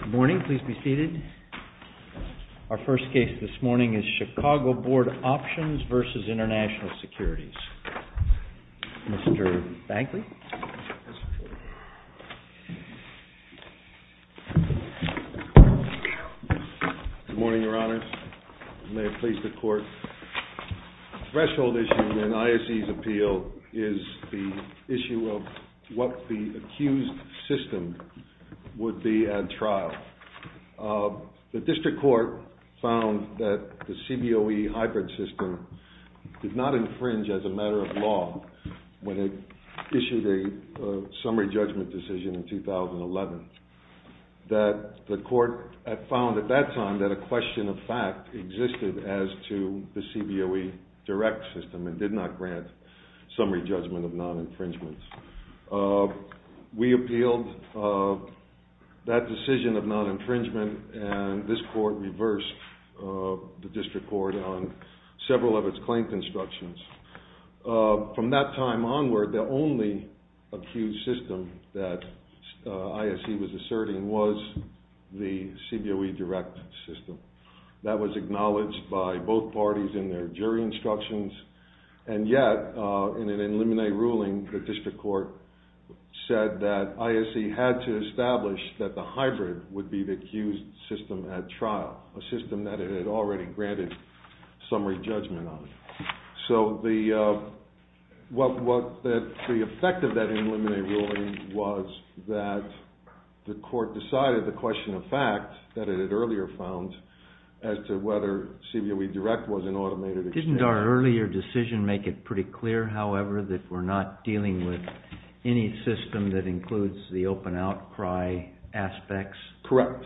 Good morning. Please be seated. Our first case this morning is Chicago Board Options v. International Securities. Mr. Bangley. Good morning, Your Honors. May it please the Court, the accused system would be at trial. The District Court found that the CBOE hybrid system did not infringe as a matter of law when it issued a summary judgment decision in 2011. The Court found at that time that a question of fact existed as to the CBOE direct system and did not grant summary judgment of non-infringement. We appealed that decision of non-infringement and this Court reversed the District Court on several of its claims instructions. From that time onward, the only accused system that ISC was asserting was the CBOE direct system. That was acknowledged by both parties in their jury instructions and yet in an in limine ruling, the District Court said that ISC had to establish that the hybrid would be the accused system at trial, a system that it had already granted summary judgment on. So the effect of that in limine ruling was that the Court decided the question of fact that it had earlier found as to whether CBOE direct was an automated exchange. Didn't our earlier decision make it pretty clear, however, that we're not dealing with any system that includes the open outcry aspects? Correct.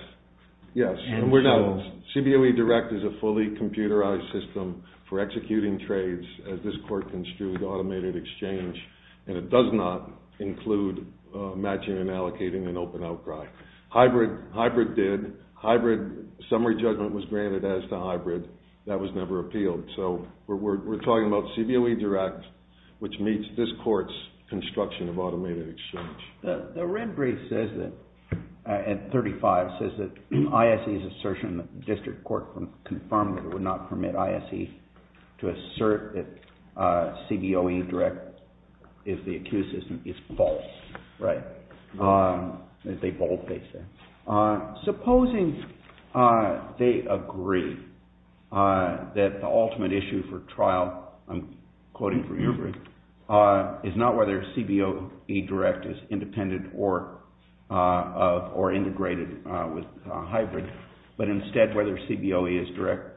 Yes. CBOE direct is a fully computerized system for executing trades as this Court construed automated exchange and it does not include matching and allocating an open outcry. Hybrid did. Hybrid summary judgment was granted as to hybrid. That was never appealed. So we're talking about CBOE direct which meets this Court's construction of automated exchange. The red brief says that, at 35, says that ISC's assertion that the District Court confirmed that it would not permit ISC to assert that CBOE direct is the accused system is false. Right. As they boldface that. Supposing they agree that the ultimate issue for trial, I'm quoting from your brief, is not whether CBOE direct is independent or integrated with hybrid, but instead whether CBOE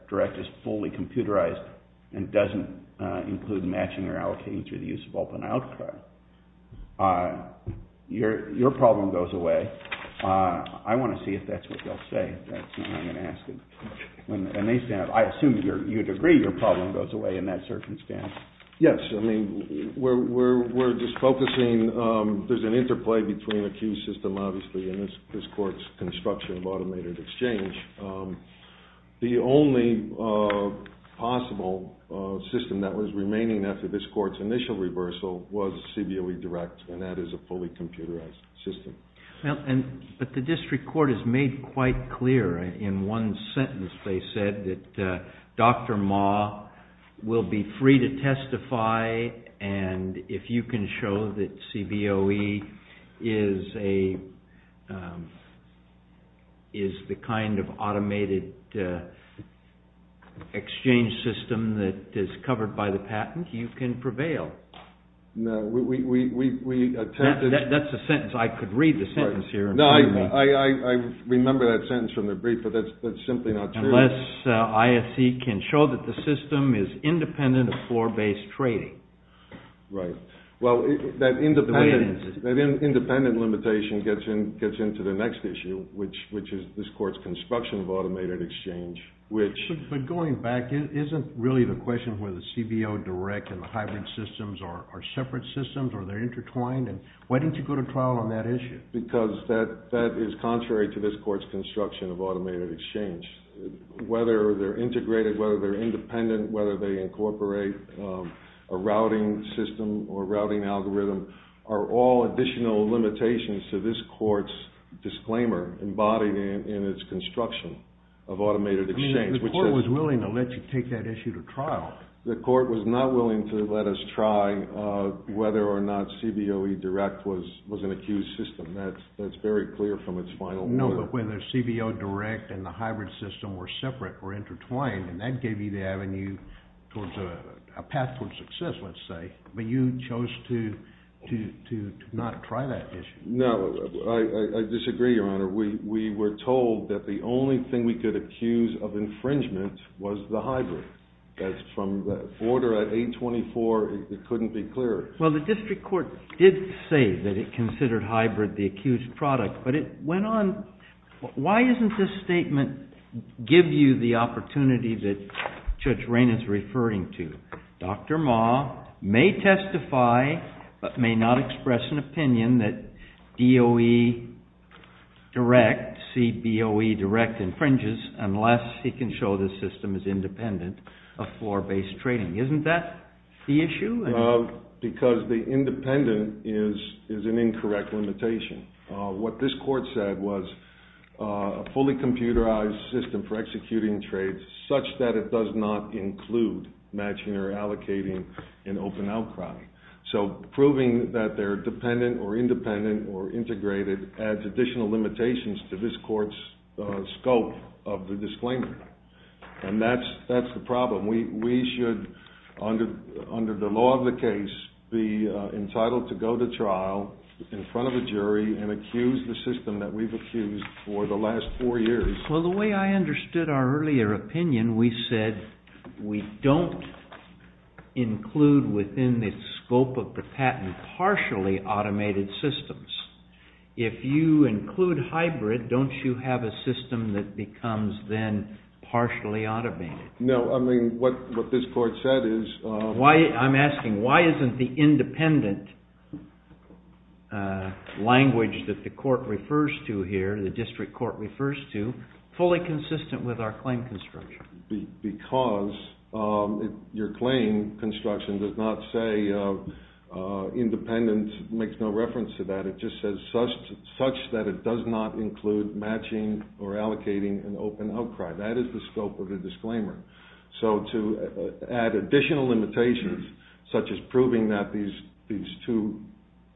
direct is fully computerized and doesn't include matching or allocating through the use of open outcry. Your problem goes away. I want to see if that's what they'll say. That's what I'm going to ask them. I assume you'd agree your problem goes away in that circumstance. Yes. I mean, we're just focusing, there's an interplay between the two. The only possible system that was remaining after this Court's initial reversal was CBOE direct and that is a fully computerized system. But the District Court has made quite clear in one sentence they said that Dr. Ma will be free to testify and if you can show that kind of automated exchange system that is covered by the patent, you can prevail. That's the sentence. I could read the sentence here and prove it. I remember that sentence from the brief, but that's simply not true. Unless ISC can show that the system is independent of floor-based trading. Right. Well, that independent limitation gets into the next issue, which is this Court's construction of automated exchange. But going back, isn't really the question where the CBOE direct and the hybrid systems are separate systems or they're intertwined? Why didn't you go to trial on that issue? Because that is contrary to this Court's construction of automated exchange. Whether they're integrated, whether they're independent, whether they incorporate a routing system or routing algorithm are all additional limitations to this Court's disclaimer embodied in its construction of automated exchange. The Court was willing to let you take that issue to trial. The Court was not willing to let us try whether or not CBOE direct was an accused system. That's very clear from its final ruling. No, but whether CBOE direct and the hybrid system were separate or intertwined, and that gave you the avenue towards a path towards success, let's say, but you chose to not try that issue. No, I disagree, Your Honor. We were told that the only thing we could accuse of infringement was the hybrid. That's from the order at 824. It couldn't be clearer. Well, the district court did say that it considered hybrid the accused product, but it went on. Why doesn't this statement give you the opportunity that Judge Raynard's referring to? Dr. Ma may testify, but may not express an opinion that DOE direct, CBOE direct infringes unless he can show the system is independent of floor-based trading. Isn't that the issue? Because the independent is an incorrect limitation. What this court said was a fully computerized system for executing trades such that it does not include matching or allocating an open outcry. So proving that they're dependent or independent or integrated adds additional limitations to this court's scope of the disclaimer. And that's the problem. We should, under the law of the case, be entitled to go to trial in front of a jury and accuse the system that we've accused for the last four years. Well, the way I understood our earlier opinion, we said we don't include within the scope of the patent partially automated systems. If you include hybrid, don't you have a system that becomes then partially automated? No, I mean, what this court said is... I'm asking, why isn't the independent language that the court refers to here, the district court refers to, fully consistent with our claim construction? Because your claim construction does not say independent makes no reference to that. It just says such that it does not include matching or allocating an open outcry. That is the scope of the disclaimer. So to add additional limitations, such as proving that these two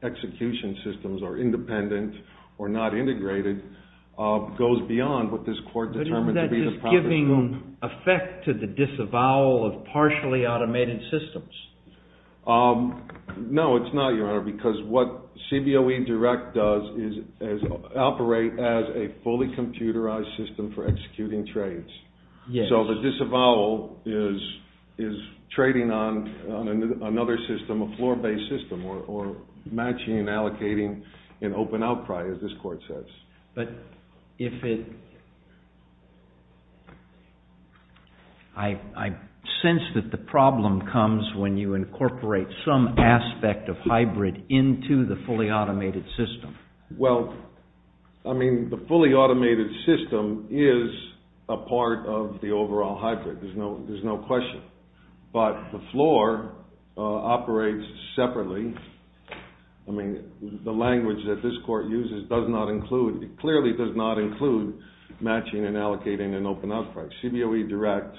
execution systems are independent or not integrated, goes beyond what this court determined to be the proper scope. But isn't that just giving effect to the disavowal of partially automated systems? No, it's not, Your Honor, because what CBOE Direct does is operate as a fully computerized system for executing trades. So the disavowal is trading on another system, a floor-based system, or matching and allocating an open outcry, as this court says. I sense that the problem comes when you incorporate some aspect of hybrid into the fully automated system. Well, I mean, the fully automated system is a part of the overall hybrid. There's no question. But the floor operates separately. I mean, the language that this court uses does not include, it clearly does not include matching and allocating an open outcry. CBOE Direct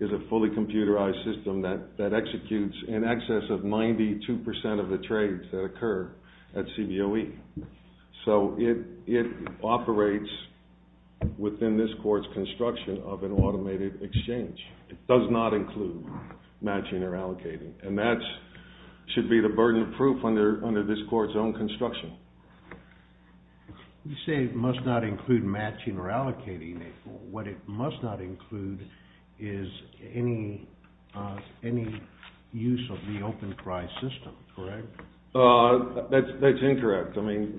is a fully computerized system that executes in excess of 92% of the trades that occur at CBOE. So it operates within this court's construction of an automated exchange. It does not include matching or allocating. And that should be the burden of proof under this court's own construction. You say it must not include matching or allocating. What it must not include is any use of the floor. That's incorrect. I mean,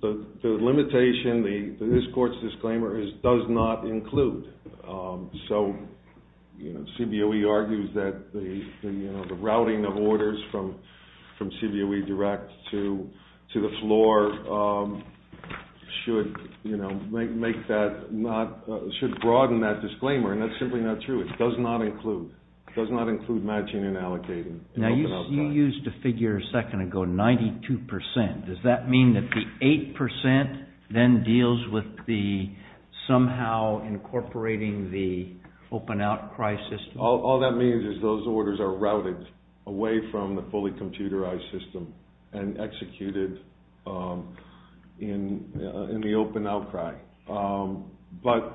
the limitation, this court's disclaimer is does not include. So CBOE argues that the routing of orders from CBOE Direct to the floor should broaden that disclaimer. And that's simply not true. It does not include matching and allocating an open outcry. You used a figure a second ago, 92%. Does that mean that the 8% then deals with the somehow incorporating the open outcry system? All that means is those orders are routed away from the fully computerized system and executed in the open outcry. But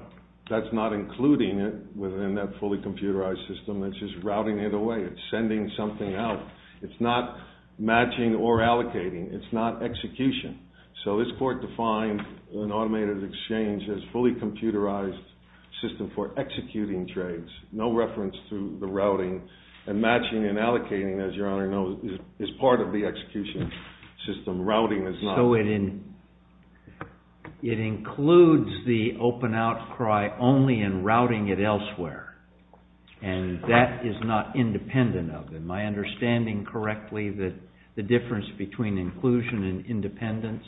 that's not including it within that fully computerized system that's just routing it away. It's sending something out. It's not matching or allocating. It's not execution. So this court defines an automated exchange as fully computerized system for executing trades. No reference to the routing. And matching and allocating, as your Honor knows, is part of the execution system. Routing is not. So it includes the open outcry only in routing it elsewhere. And that is not independent of it. Am I understanding correctly that the difference between inclusion and independence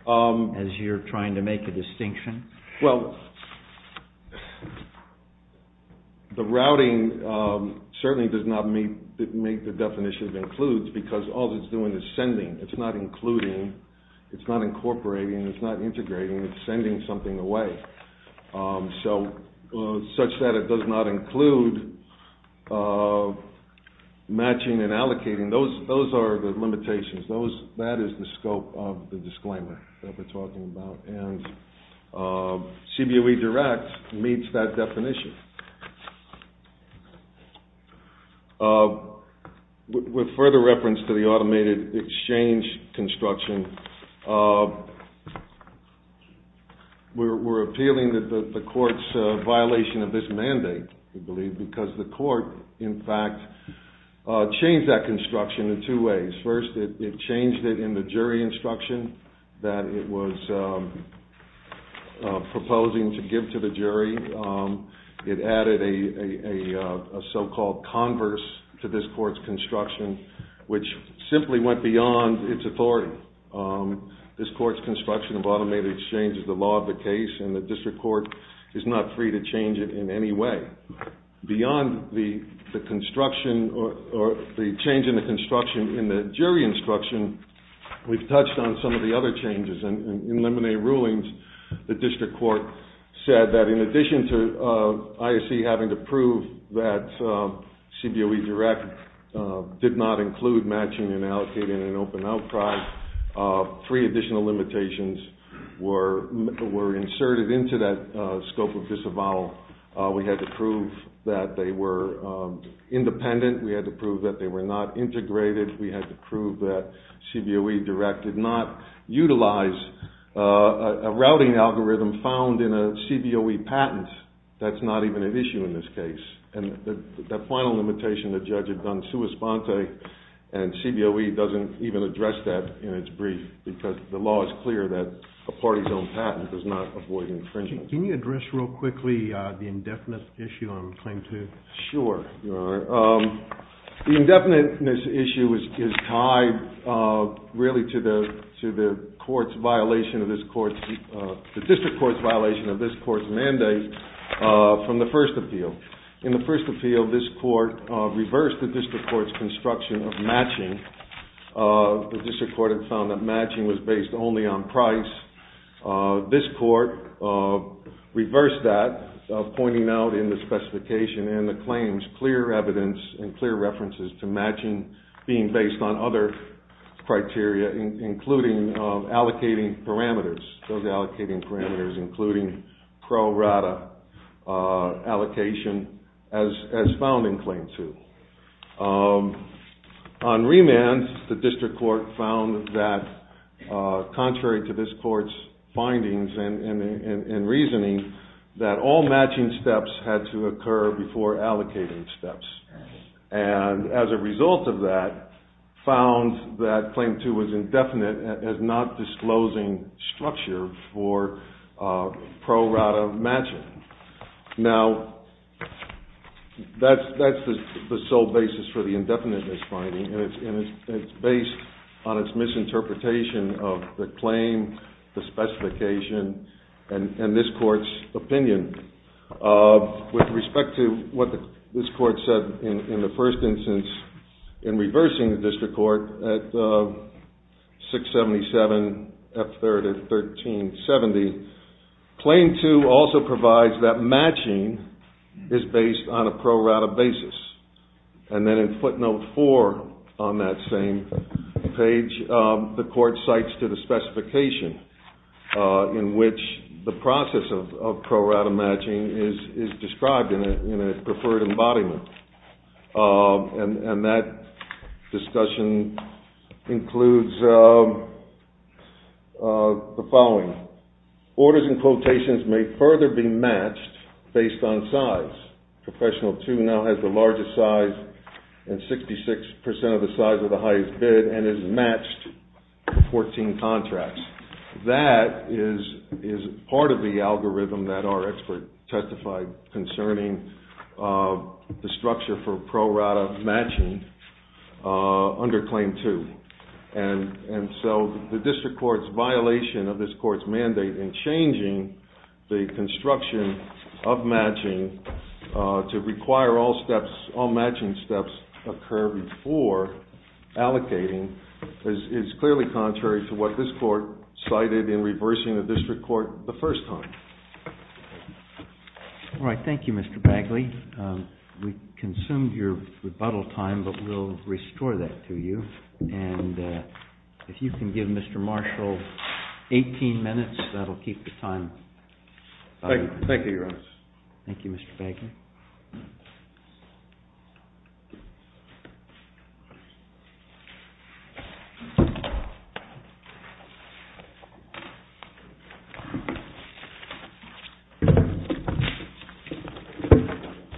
as you're trying to make a distinction? Well, the routing certainly does not meet the definition of includes because all it's doing is sending. It's not including. It's not incorporating. It's not integrating. It's sending something away. So such that it does not include matching and allocating, those are the limitations. That is the scope of the disclaimer that we're talking about. And CBOE Direct meets that definition. With further reference to the automated exchange construction, we're appealing that the court's violation of this mandate, we believe, because the court, in fact, changed that construction in two ways. First, it changed it in the jury instruction that it was proposing to give to the jury. It added a so-called converse to this court's construction, which simply went beyond its authority. This court's construction of automated exchange is the law of the case, and the district court is not free to change it in any way. Beyond the construction or the change in the construction in the jury instruction, we've touched on some of the other changes. In Lemonet rulings, the district court said that in addition to ISC having to prove that CBOE Direct did not include matching and allocating in an open outcry, three additional limitations were inserted into that scope of disavowal. We had to prove that they were independent. We had to prove that they were not integrated. We had to prove that CBOE Direct did not utilize a routing algorithm found in a CBOE patent. That's not even an issue in this case. And the final limitation, the judge had done sua sponte, and CBOE doesn't even address that in its brief, because the law is clear that a party's own patent does not avoid infringement. Can you address real quickly the indefinite issue I'm claiming to? Sure. The indefiniteness issue is tied really to the court's violation of this court's, the district court's violation of this court's mandate from the first appeal. In the first appeal, this court reversed the district court's construction of matching. The district court had found that matching was based only on price. This court reversed that, pointing out in the specification and the claims clear evidence and clear references to matching being based on other criteria, including allocating parameters, those allocating parameters including pro rata allocation as found in claim two. On remand, the district court found that contrary to this court's findings and reasoning, that all matching steps had to occur before allocating steps. And as a result of that, found that claim two was indefinite as not disclosing structure for pro rata matching. Now, that's the sole basis for the indefiniteness finding, and it's based on its misinterpretation of the claim, the specification, and this court's opinion. With respect to what this court said in the first instance in reversing the district court at 677 F3rd at 1370, claim two also provides that matching is based on a pro rata basis. And then in footnote four on that same page, the court cites to the specification in which the process of pro rata matching is described in a preferred embodiment. And that discussion includes the following. Orders and quotations may further be matched based on size. Professional two now has the largest size and 66% of the size of the highest bid and is matched for 14 contracts. That is part of the algorithm that our expert testified concerning the structure for pro rata matching under claim two. And so the district court's decision to require all matching steps occur before allocating is clearly contrary to what this court cited in reversing the district court the first time. All right. Thank you, Mr. Bagley. We consumed your rebuttal time, but we'll restore that to you. And if you can give Mr. Marshall 18 minutes, that'll keep the time. Thank you, Your Honor. Thank you, Mr. Bagley.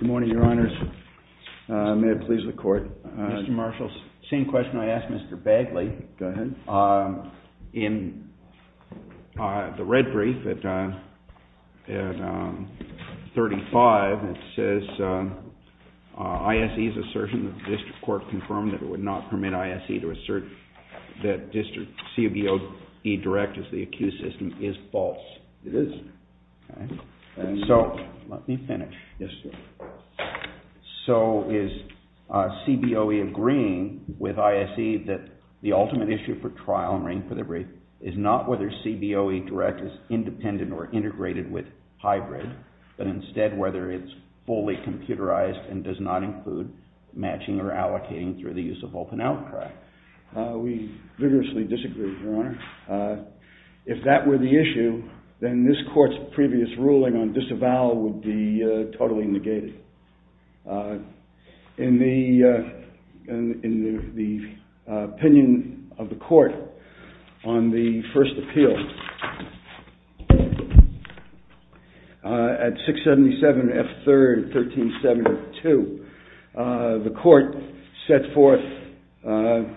Good morning, Your Honors. May it please the court. Mr. Marshall, same question I asked Mr. Bagley. Go ahead. In the red brief at 35, it says ISE's assertion that the district court confirmed that it would not permit ISE to assert that district CBOE direct is the accused system is false. It is. Okay. And so... Let me finish. Yes, sir. So is CBOE agreeing with ISE that the ultimate issue for trial and ring for the brief is not whether CBOE direct is independent or integrated with hybrid, but instead whether it's fully computerized and does not include matching or allocating through the use of open outcrack? We vigorously disagree, Your Honor. If that were the issue, then this court's previous ruling on disavowal would be totally negated. In the opinion of the court on the first appeal, at 677 F3rd 1372, the court set forth, and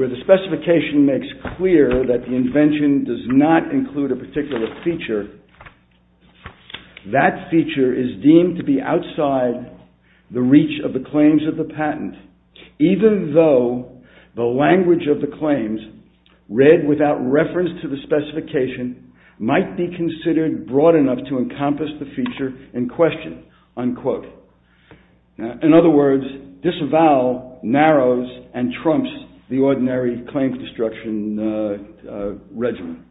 where the specification makes clear that the invention does not include a particular feature, that feature is deemed to be outside the reach of the claims of the patent, even though the language of the claims, read without reference to the specification, might be considered broad enough to encompass the feature in question, unquote. In other words, disavowal narrows and trumps the ordinary claims destruction regimen.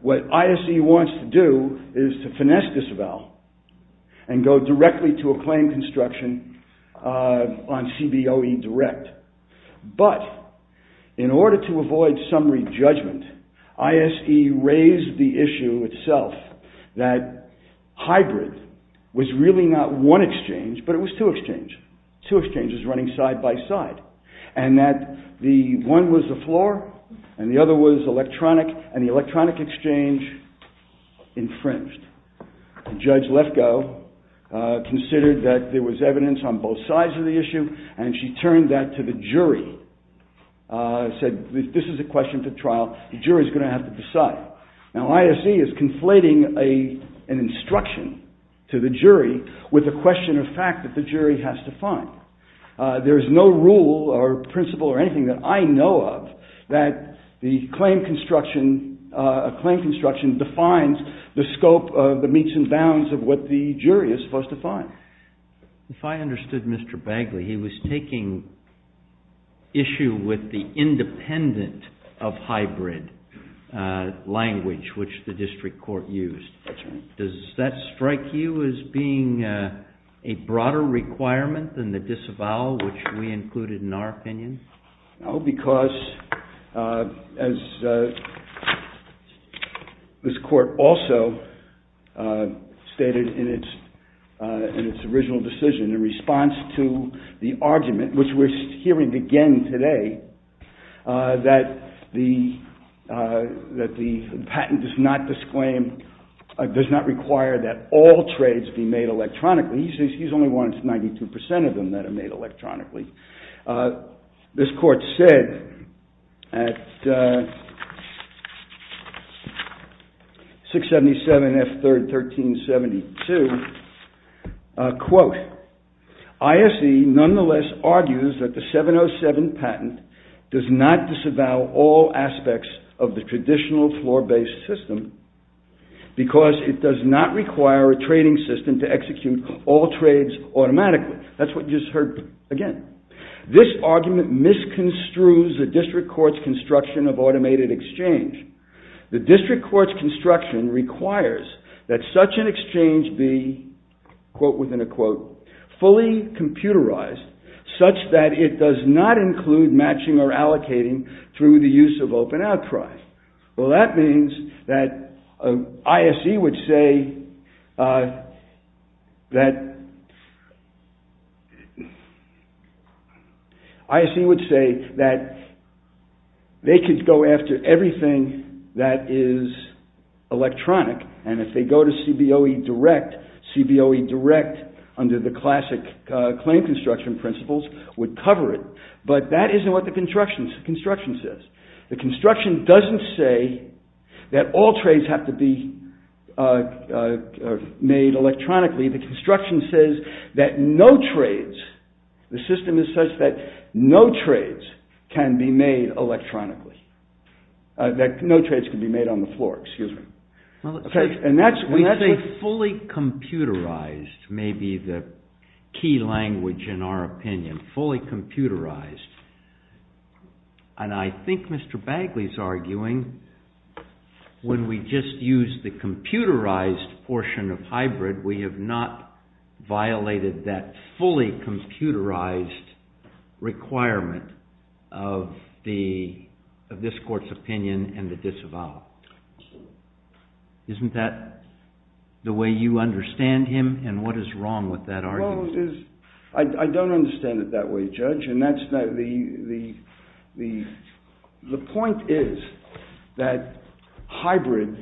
What ISE wants to do is to finesse disavowal and go directly to a claim construction on CBOE direct. But in order to avoid summary judgment, ISE raised the issue itself that hybrid was really not one exchange, but it was two exchanges, two exchanges running side by side, and that the one was the floor, and the other was electronic, and the electronic exchange infringed. Judge Lefkoe considered that there was evidence on both sides of the issue, and she turned that to the jury, and said, this is a question for trial, the jury's going to have to decide. Now, ISE is conflating an instruction to the jury with a question of fact that the jury has to find. There is no rule or principle or anything that I know of that the claim construction, a claim construction defines the scope of the meets and bounds of what the jury is supposed to find. If I understood Mr. Bagley, he was taking issue with the independent of hybrid language which the district court used. Does that strike you as being a broader requirement than the disavowal which we included in our opinion? No, because as this court also stated in its original decision, in response to the argument which we're hearing again today, that the patent does not disclaim, does not require that all trades be made electronically, he says he's only wanted 92% of them that are made electronically. This court said at 677 F. 3rd, 1372, quote, ISE nonetheless argued that the patent should not disavow all aspects of the traditional floor based system because it does not require a trading system to execute all trades automatically. That's what you just heard again. This argument misconstrues the district court's construction of automated exchange. The district court's construction requires that such an exchange be, quote within a quote, fully computerized such that it does not include matching or allocating through the use of open outcry. Well that means that ISE would say that they could go after everything that is electronic and if they go to CBOE direct, CBOE direct under the classic claim construction principles would cover it. But that isn't what the construction says. The construction doesn't say that all trades have to be made electronically. The construction says that no trades, the system is such that no trades can be made electronically, that no trades can be made on the floor, excuse me. And that's what... We say fully computerized may be the key language in our opinion, fully computerized. And I think Mr. Bagley is arguing when we just use the computerized portion of hybrid we have not violated that fully computerized requirement of the, you know, the, you know, the, of this court's opinion and the disavowal. Isn't that the way you understand him and what is wrong with that argument? Well it is, I don't understand it that way judge and that's not the, the, the point is that hybrid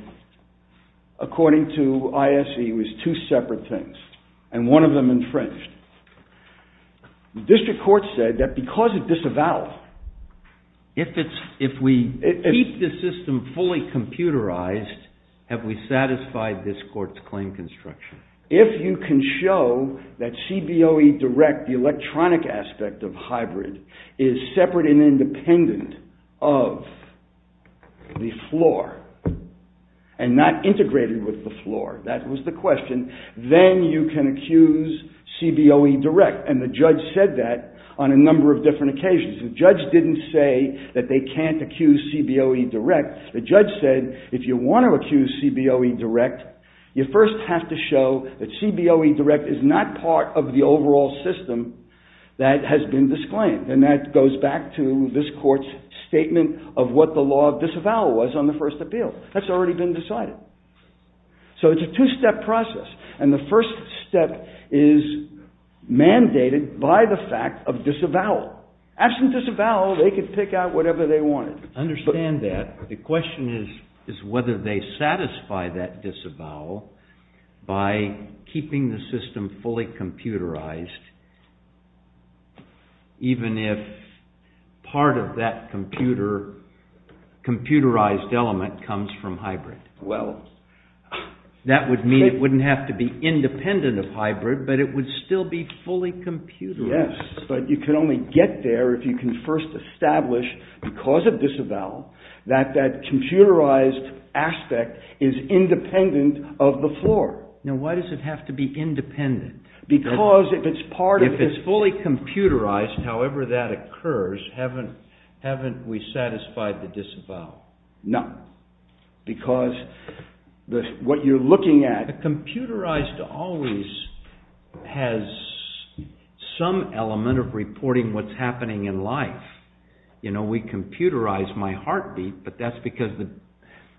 according to ISE was two separate things and one of them infringed. The district court said that because it disavowed... If it's, if we keep the system fully computerized have we satisfied this court's claim construction? If you can show that CBOE direct, the electronic aspect of hybrid is separate and independent of the floor and not integrated with the floor, that was the question, then you can accuse CBOE direct and the judge said that on a number of different occasions. The judge didn't say that they can't accuse CBOE direct, the judge said if you want to accuse CBOE direct you first have to show that CBOE direct is not part of the overall system that has been disclaimed and that goes back to this court's statement of what the law of disavowal was on the first appeal, that's already been decided. So, it's a two-step process and the first step is mandated by the fact of disavowal. Absent disavowal they could pick out whatever they wanted. I understand that, the question is whether they satisfy that disavowal by keeping the system fully computerized even if part of that computer, computerized element comes from hybrid. Well, that would mean it wouldn't have to be independent of hybrid but it would still be fully computerized. Yes, but you can only get there if you can first establish because of disavowal that that computerized aspect is independent of the floor. Now, why does it have to be independent? Because if it's part of the… If it's fully computerized however that occurs, haven't we satisfied the disavowal? No, because what you're looking at… The computerized always has some element of reporting what's happening in life. You know, we computerize my heartbeat but that's because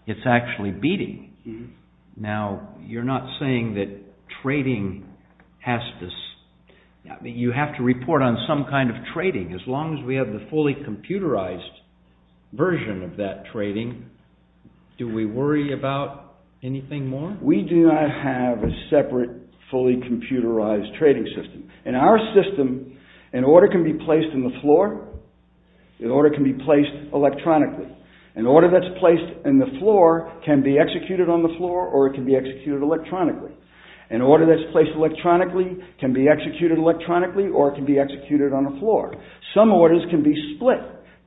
it's actually beating. Now you're not saying that trading has to… you have to report on some kind of trading as long as we have the fully computerized version of that trading, do we worry about anything more? We do not have a separate fully computerized trading system. In our system, an order can be placed in the floor, an order can be placed electronically. An order that's placed in the floor can be executed on the floor or it can be executed electronically. An order that's placed electronically can be executed electronically or it can be executed on the floor. Some orders can be split,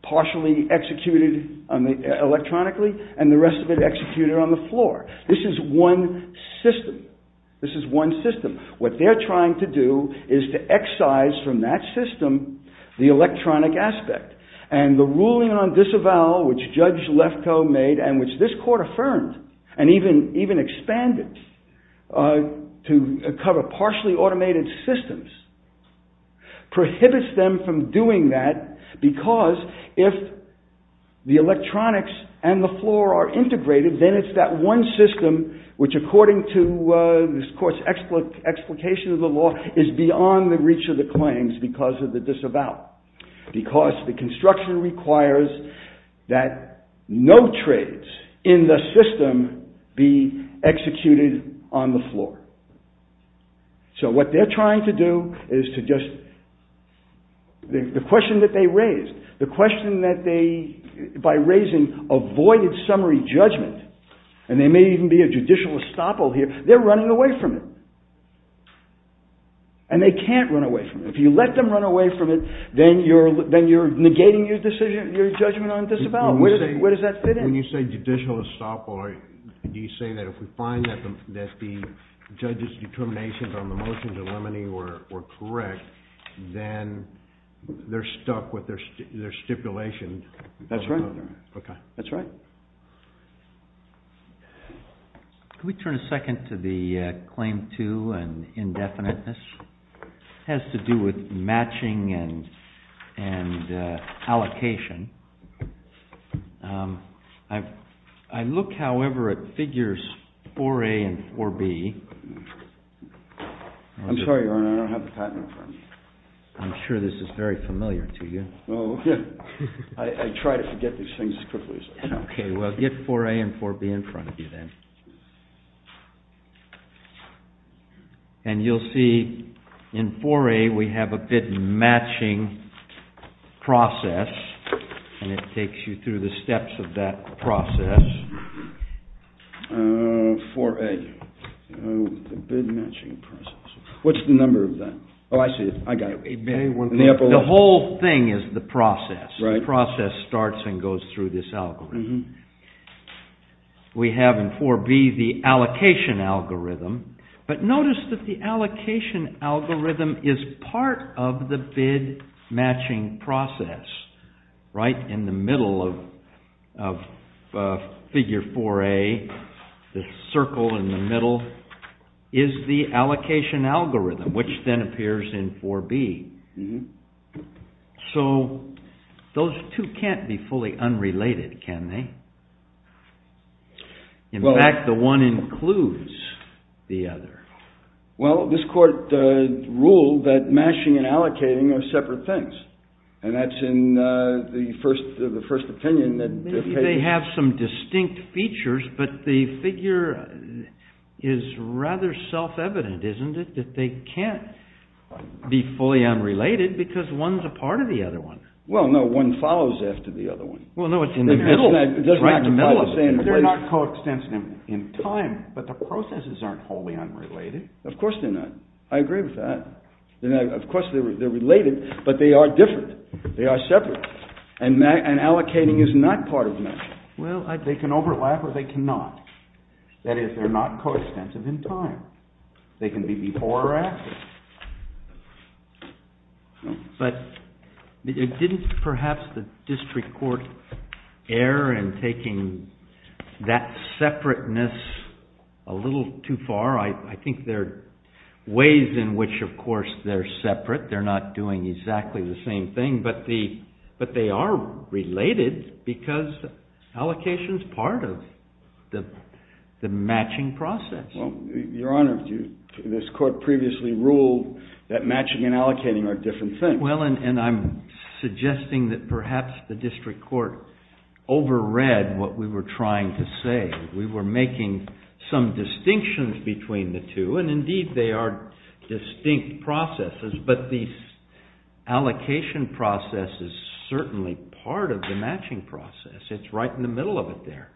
partially executed electronically and the rest of it executed on the floor. This is one system, this is one system. What they're trying to do is to excise from that system the electronic aspect and the ruling on disavowal which Judge Lefkoe made and which this court affirmed and even expanded to cover partially automated systems prohibits them from doing that because if the electronics and the floor are integrated then it's that one system which according to this court's explication of the law is beyond the reach of the claims because of the disavowal. Because the construction requires that no trades in the system be executed electronically on the floor. So what they're trying to do is to just, the question that they raised, the question that they, by raising avoided summary judgment and there may even be a judicial estoppel here, they're running away from it and they can't run away from it. If you let them run away from it then you're negating your decision, your judgment on disavowal. Where does that fit in? When you say judicial estoppel, do you say that if we find that the judge's determinations on the motion to eliminate were correct then they're stuck with their stipulation? That's right. Okay. That's right. Can we turn a second to the claim two and indefiniteness? It has to do with matching and allocation. I look, however, at figures 4A and 4B. I'm sorry, Your Honor, I don't have the patent in front of me. I'm sure this is very familiar to you. Oh, yeah. I try to forget these things as quickly as I can. Okay. Well, get 4A and 4B in front of you then. And you'll see in 4A we have a bit matching process. And it takes you through the steps of that process. 4A, the bit matching process. What's the number of that? Oh, I see it. I got it. The whole thing is the process. The process starts and goes through this algorithm. We have in 4B the allocation algorithm. But notice that the allocation algorithm is part of the bit matching process. Right in the middle of figure 4A, the circle in the middle, is the allocation algorithm, which then appears in 4B. So those two can't be fully unrelated, can they? In fact, the one includes the other. Well, this court ruled that matching and allocating are separate things. And that's in the first opinion. They have some distinct features, but the figure is rather self-evident, isn't it? That they can't be fully unrelated because one's a part of the other one. Well, no, one follows after the other one. Well, no, it's in the middle. They're not coextensive in time, but the processes aren't wholly unrelated. Of course they're not. I agree with that. Of course they're related, but they are different. They are separate. And allocating is not part of matching. Well, they can overlap or they cannot. That is, they're not coextensive in time. They can be before or after. But didn't perhaps the district court err in taking that separateness a little too far? I think there are ways in which, of course, they're separate. They're not doing exactly the same thing. But they are related because allocation is part of the matching process. Well, Your Honor, this court previously ruled that matching and allocating are different things. Well, and I'm suggesting that perhaps the district court overread what we were trying to say. We were making some distinctions between the two, and indeed they are distinct processes. But the allocation process is certainly part of the matching process. It's right in the middle of it there.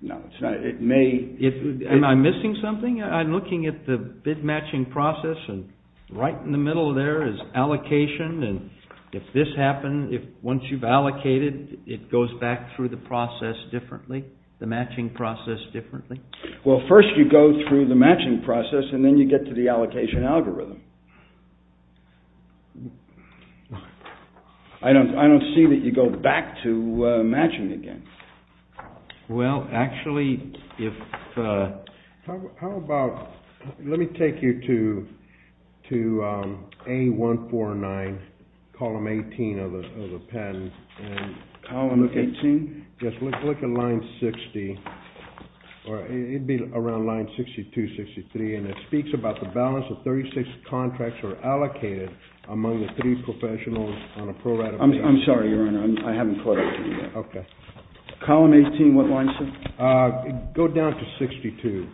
No, it's not. Am I missing something? I'm looking at the bid matching process, and right in the middle there is allocation. And if this happened, once you've allocated, it goes back through the process differently, the matching process differently? Well, first you go through the matching process, and then you get to the allocation algorithm. I don't see that you go back to matching again. Well, actually, if— How about—let me take you to A149, column 18 of the patent. Column 18? Yes, look at line 60. It'd be around line 62, 63, and it speaks about the balance of 36 contracts are allocated among the three professionals on a pro-ratification. I'm sorry, Your Honor, I haven't quite— Okay. Column 18, what line, sir? Go down to 62.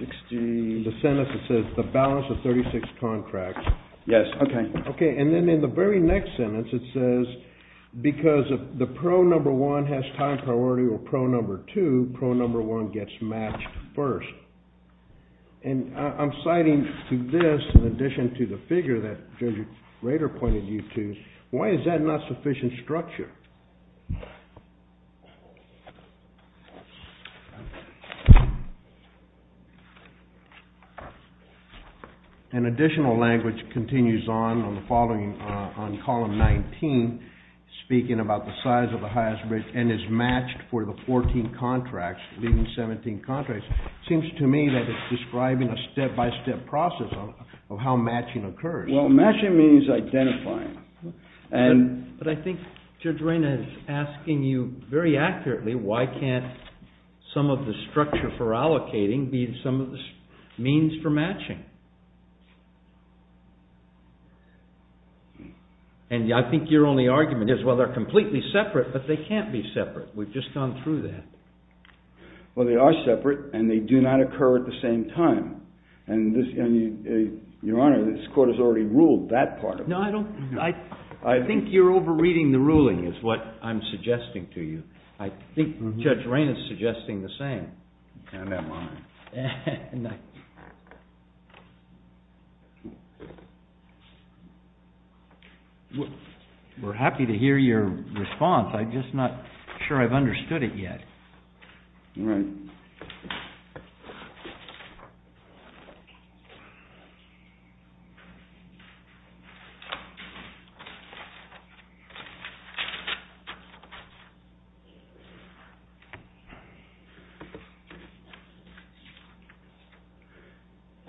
62. In the sentence it says the balance of 36 contracts. Yes, okay. Okay, and then in the very next sentence it says because the pro number one has time priority or pro number two, pro number one gets matched first. And I'm citing to this, in addition to the figure that Judge Rader pointed you to, why is that not sufficient structure? An additional language continues on on column 19, speaking about the size of the highest bridge and is matched for the 14 contracts, leaving 17 contracts. It seems to me that it's describing a step-by-step process of how matching occurs. Well, matching means identifying. But I think Judge Rader is asking you very accurately why can't some of the structure for allocating be some of the means for matching? And I think your only argument is, well, they're completely separate, but they can't be separate. We've just gone through that. Well, they are separate, and they do not occur at the same time. And, Your Honor, this Court has already ruled that part of it. I think you're over-reading the ruling is what I'm suggesting to you. I think Judge Rain is suggesting the same. And am I. We're happy to hear your response. I'm just not sure I've understood it yet.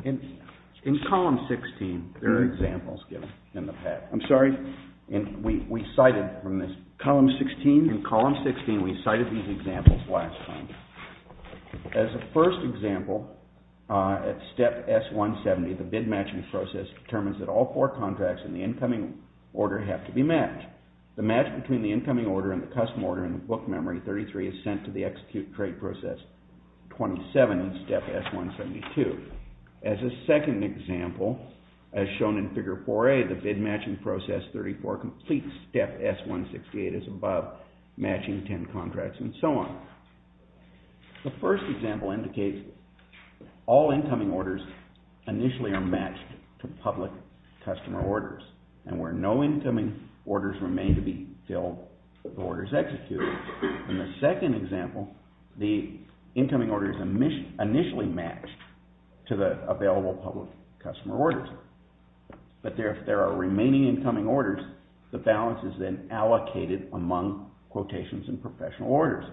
In column 16, there are examples given in the past. I'm sorry. We cited from this column 16. In column 16, we cited these examples last time. As a first example, at step S-170, the bid matching process determines that all four contracts in the incoming order have to be matched. The match between the incoming order and the custom order in the book memory, 33, is sent to the execute trade process, 27 in step S-172. As a second example, as shown in figure 4A, the bid matching process, 34, completes step S-168, is above matching 10 contracts, and so on. The first example indicates all incoming orders initially are matched to public customer orders. And where no incoming orders remain to be filled, the order is executed. In the second example, the incoming order is initially matched to the available public customer orders. But if there are remaining incoming orders, the balance is then allocated among quotations and professional orders.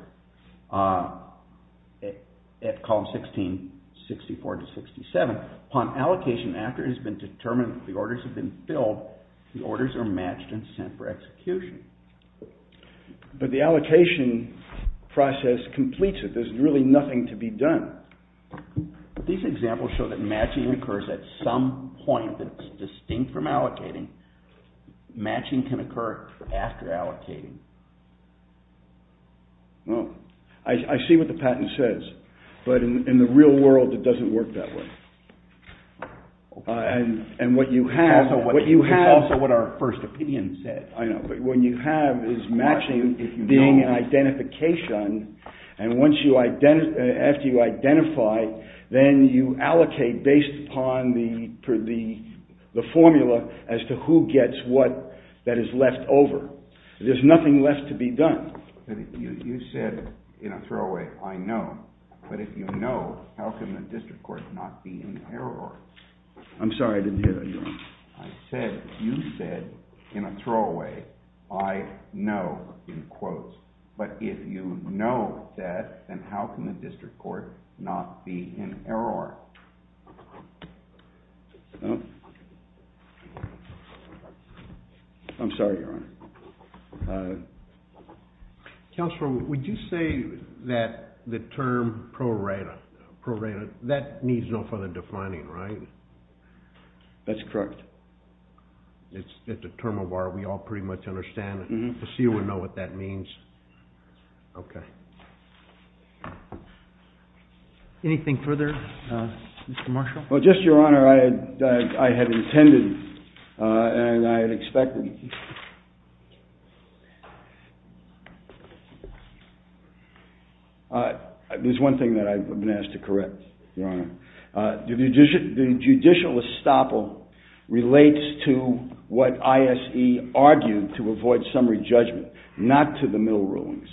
At column 16, 64 to 67, upon allocation after it has been determined that the orders have been filled, the orders are matched and sent for execution. But the allocation process completes it. There's really nothing to be done. These examples show that matching occurs at some point that's distinct from allocating. Matching can occur after allocating. Well, I see what the patent says. But in the real world, it doesn't work that way. And what you have... That's also what our first opinion said. I know, but what you have is matching being an identification. And after you identify, then you allocate based upon the formula as to who gets what that is left over. There's nothing left to be done. You said in a throwaway, I know. But if you know, how can the district court not be in error? I'm sorry, I didn't hear that, Your Honor. I said, you said in a throwaway, I know, in quotes. But if you know that, then how can the district court not be in error? I'm sorry, Your Honor. Counselor, would you say that the term pro rata, pro rata, that needs no further defining, right? That's correct. It's a term of art we all pretty much understand. I see you know what that means. Okay. Anything further? Mr. Marshall? Well, just, Your Honor, I had intended and I had expected... There's one thing that I've been asked to correct, Your Honor. The judicial estoppel relates to what ISE argued to avoid summary judgment, not to the middle rulings.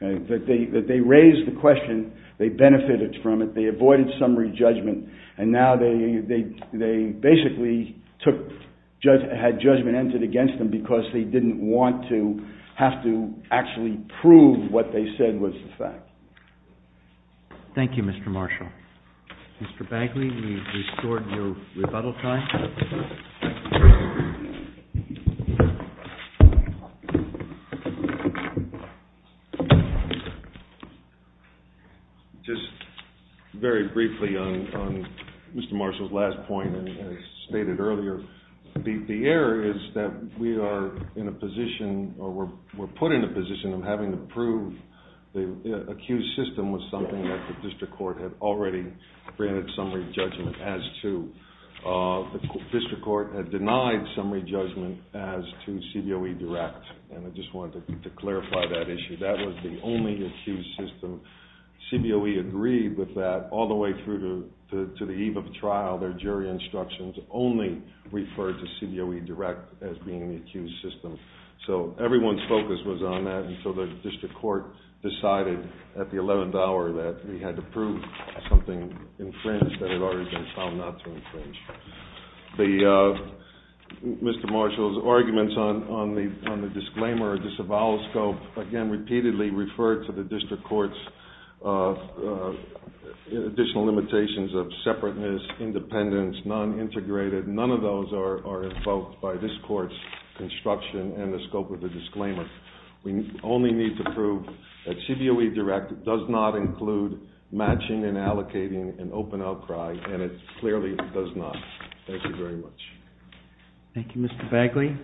That they raised the question, they benefited from it, they avoided summary judgment, and now they basically took, had judgment entered against them because they didn't want to, have to actually prove what they said was the fact. Thank you, Mr. Marshall. Mr. Bagley, we've restored your rebuttal time. Thank you. Just very briefly on Mr. Marshall's last point as stated earlier, the error is that we are in a position or we're put in a position of having to prove the accused system was something that the district court had already granted summary judgment as to. The district court had denied summary judgment as to CBOE direct, and I just wanted to clarify that issue. That was the only accused system. CBOE agreed with that all the way through to the eve of the trial. Their jury instructions only referred to CBOE direct as being the accused system. So everyone's focus was on that, and so the district court decided at the 11th hour that we had to prove something infringed that had already been found not to infringe. Mr. Marshall's arguments on the disclaimer or disavowal scope, again, repeatedly referred to the district court's additional limitations of separateness, independence, non-integrated. None of those are invoked by this court's construction and the scope of the disclaimer. We only need to prove that CBOE direct does not include matching and allocating an open outcry, and it clearly does not. Thank you very much. Thank you, Mr. Bagley.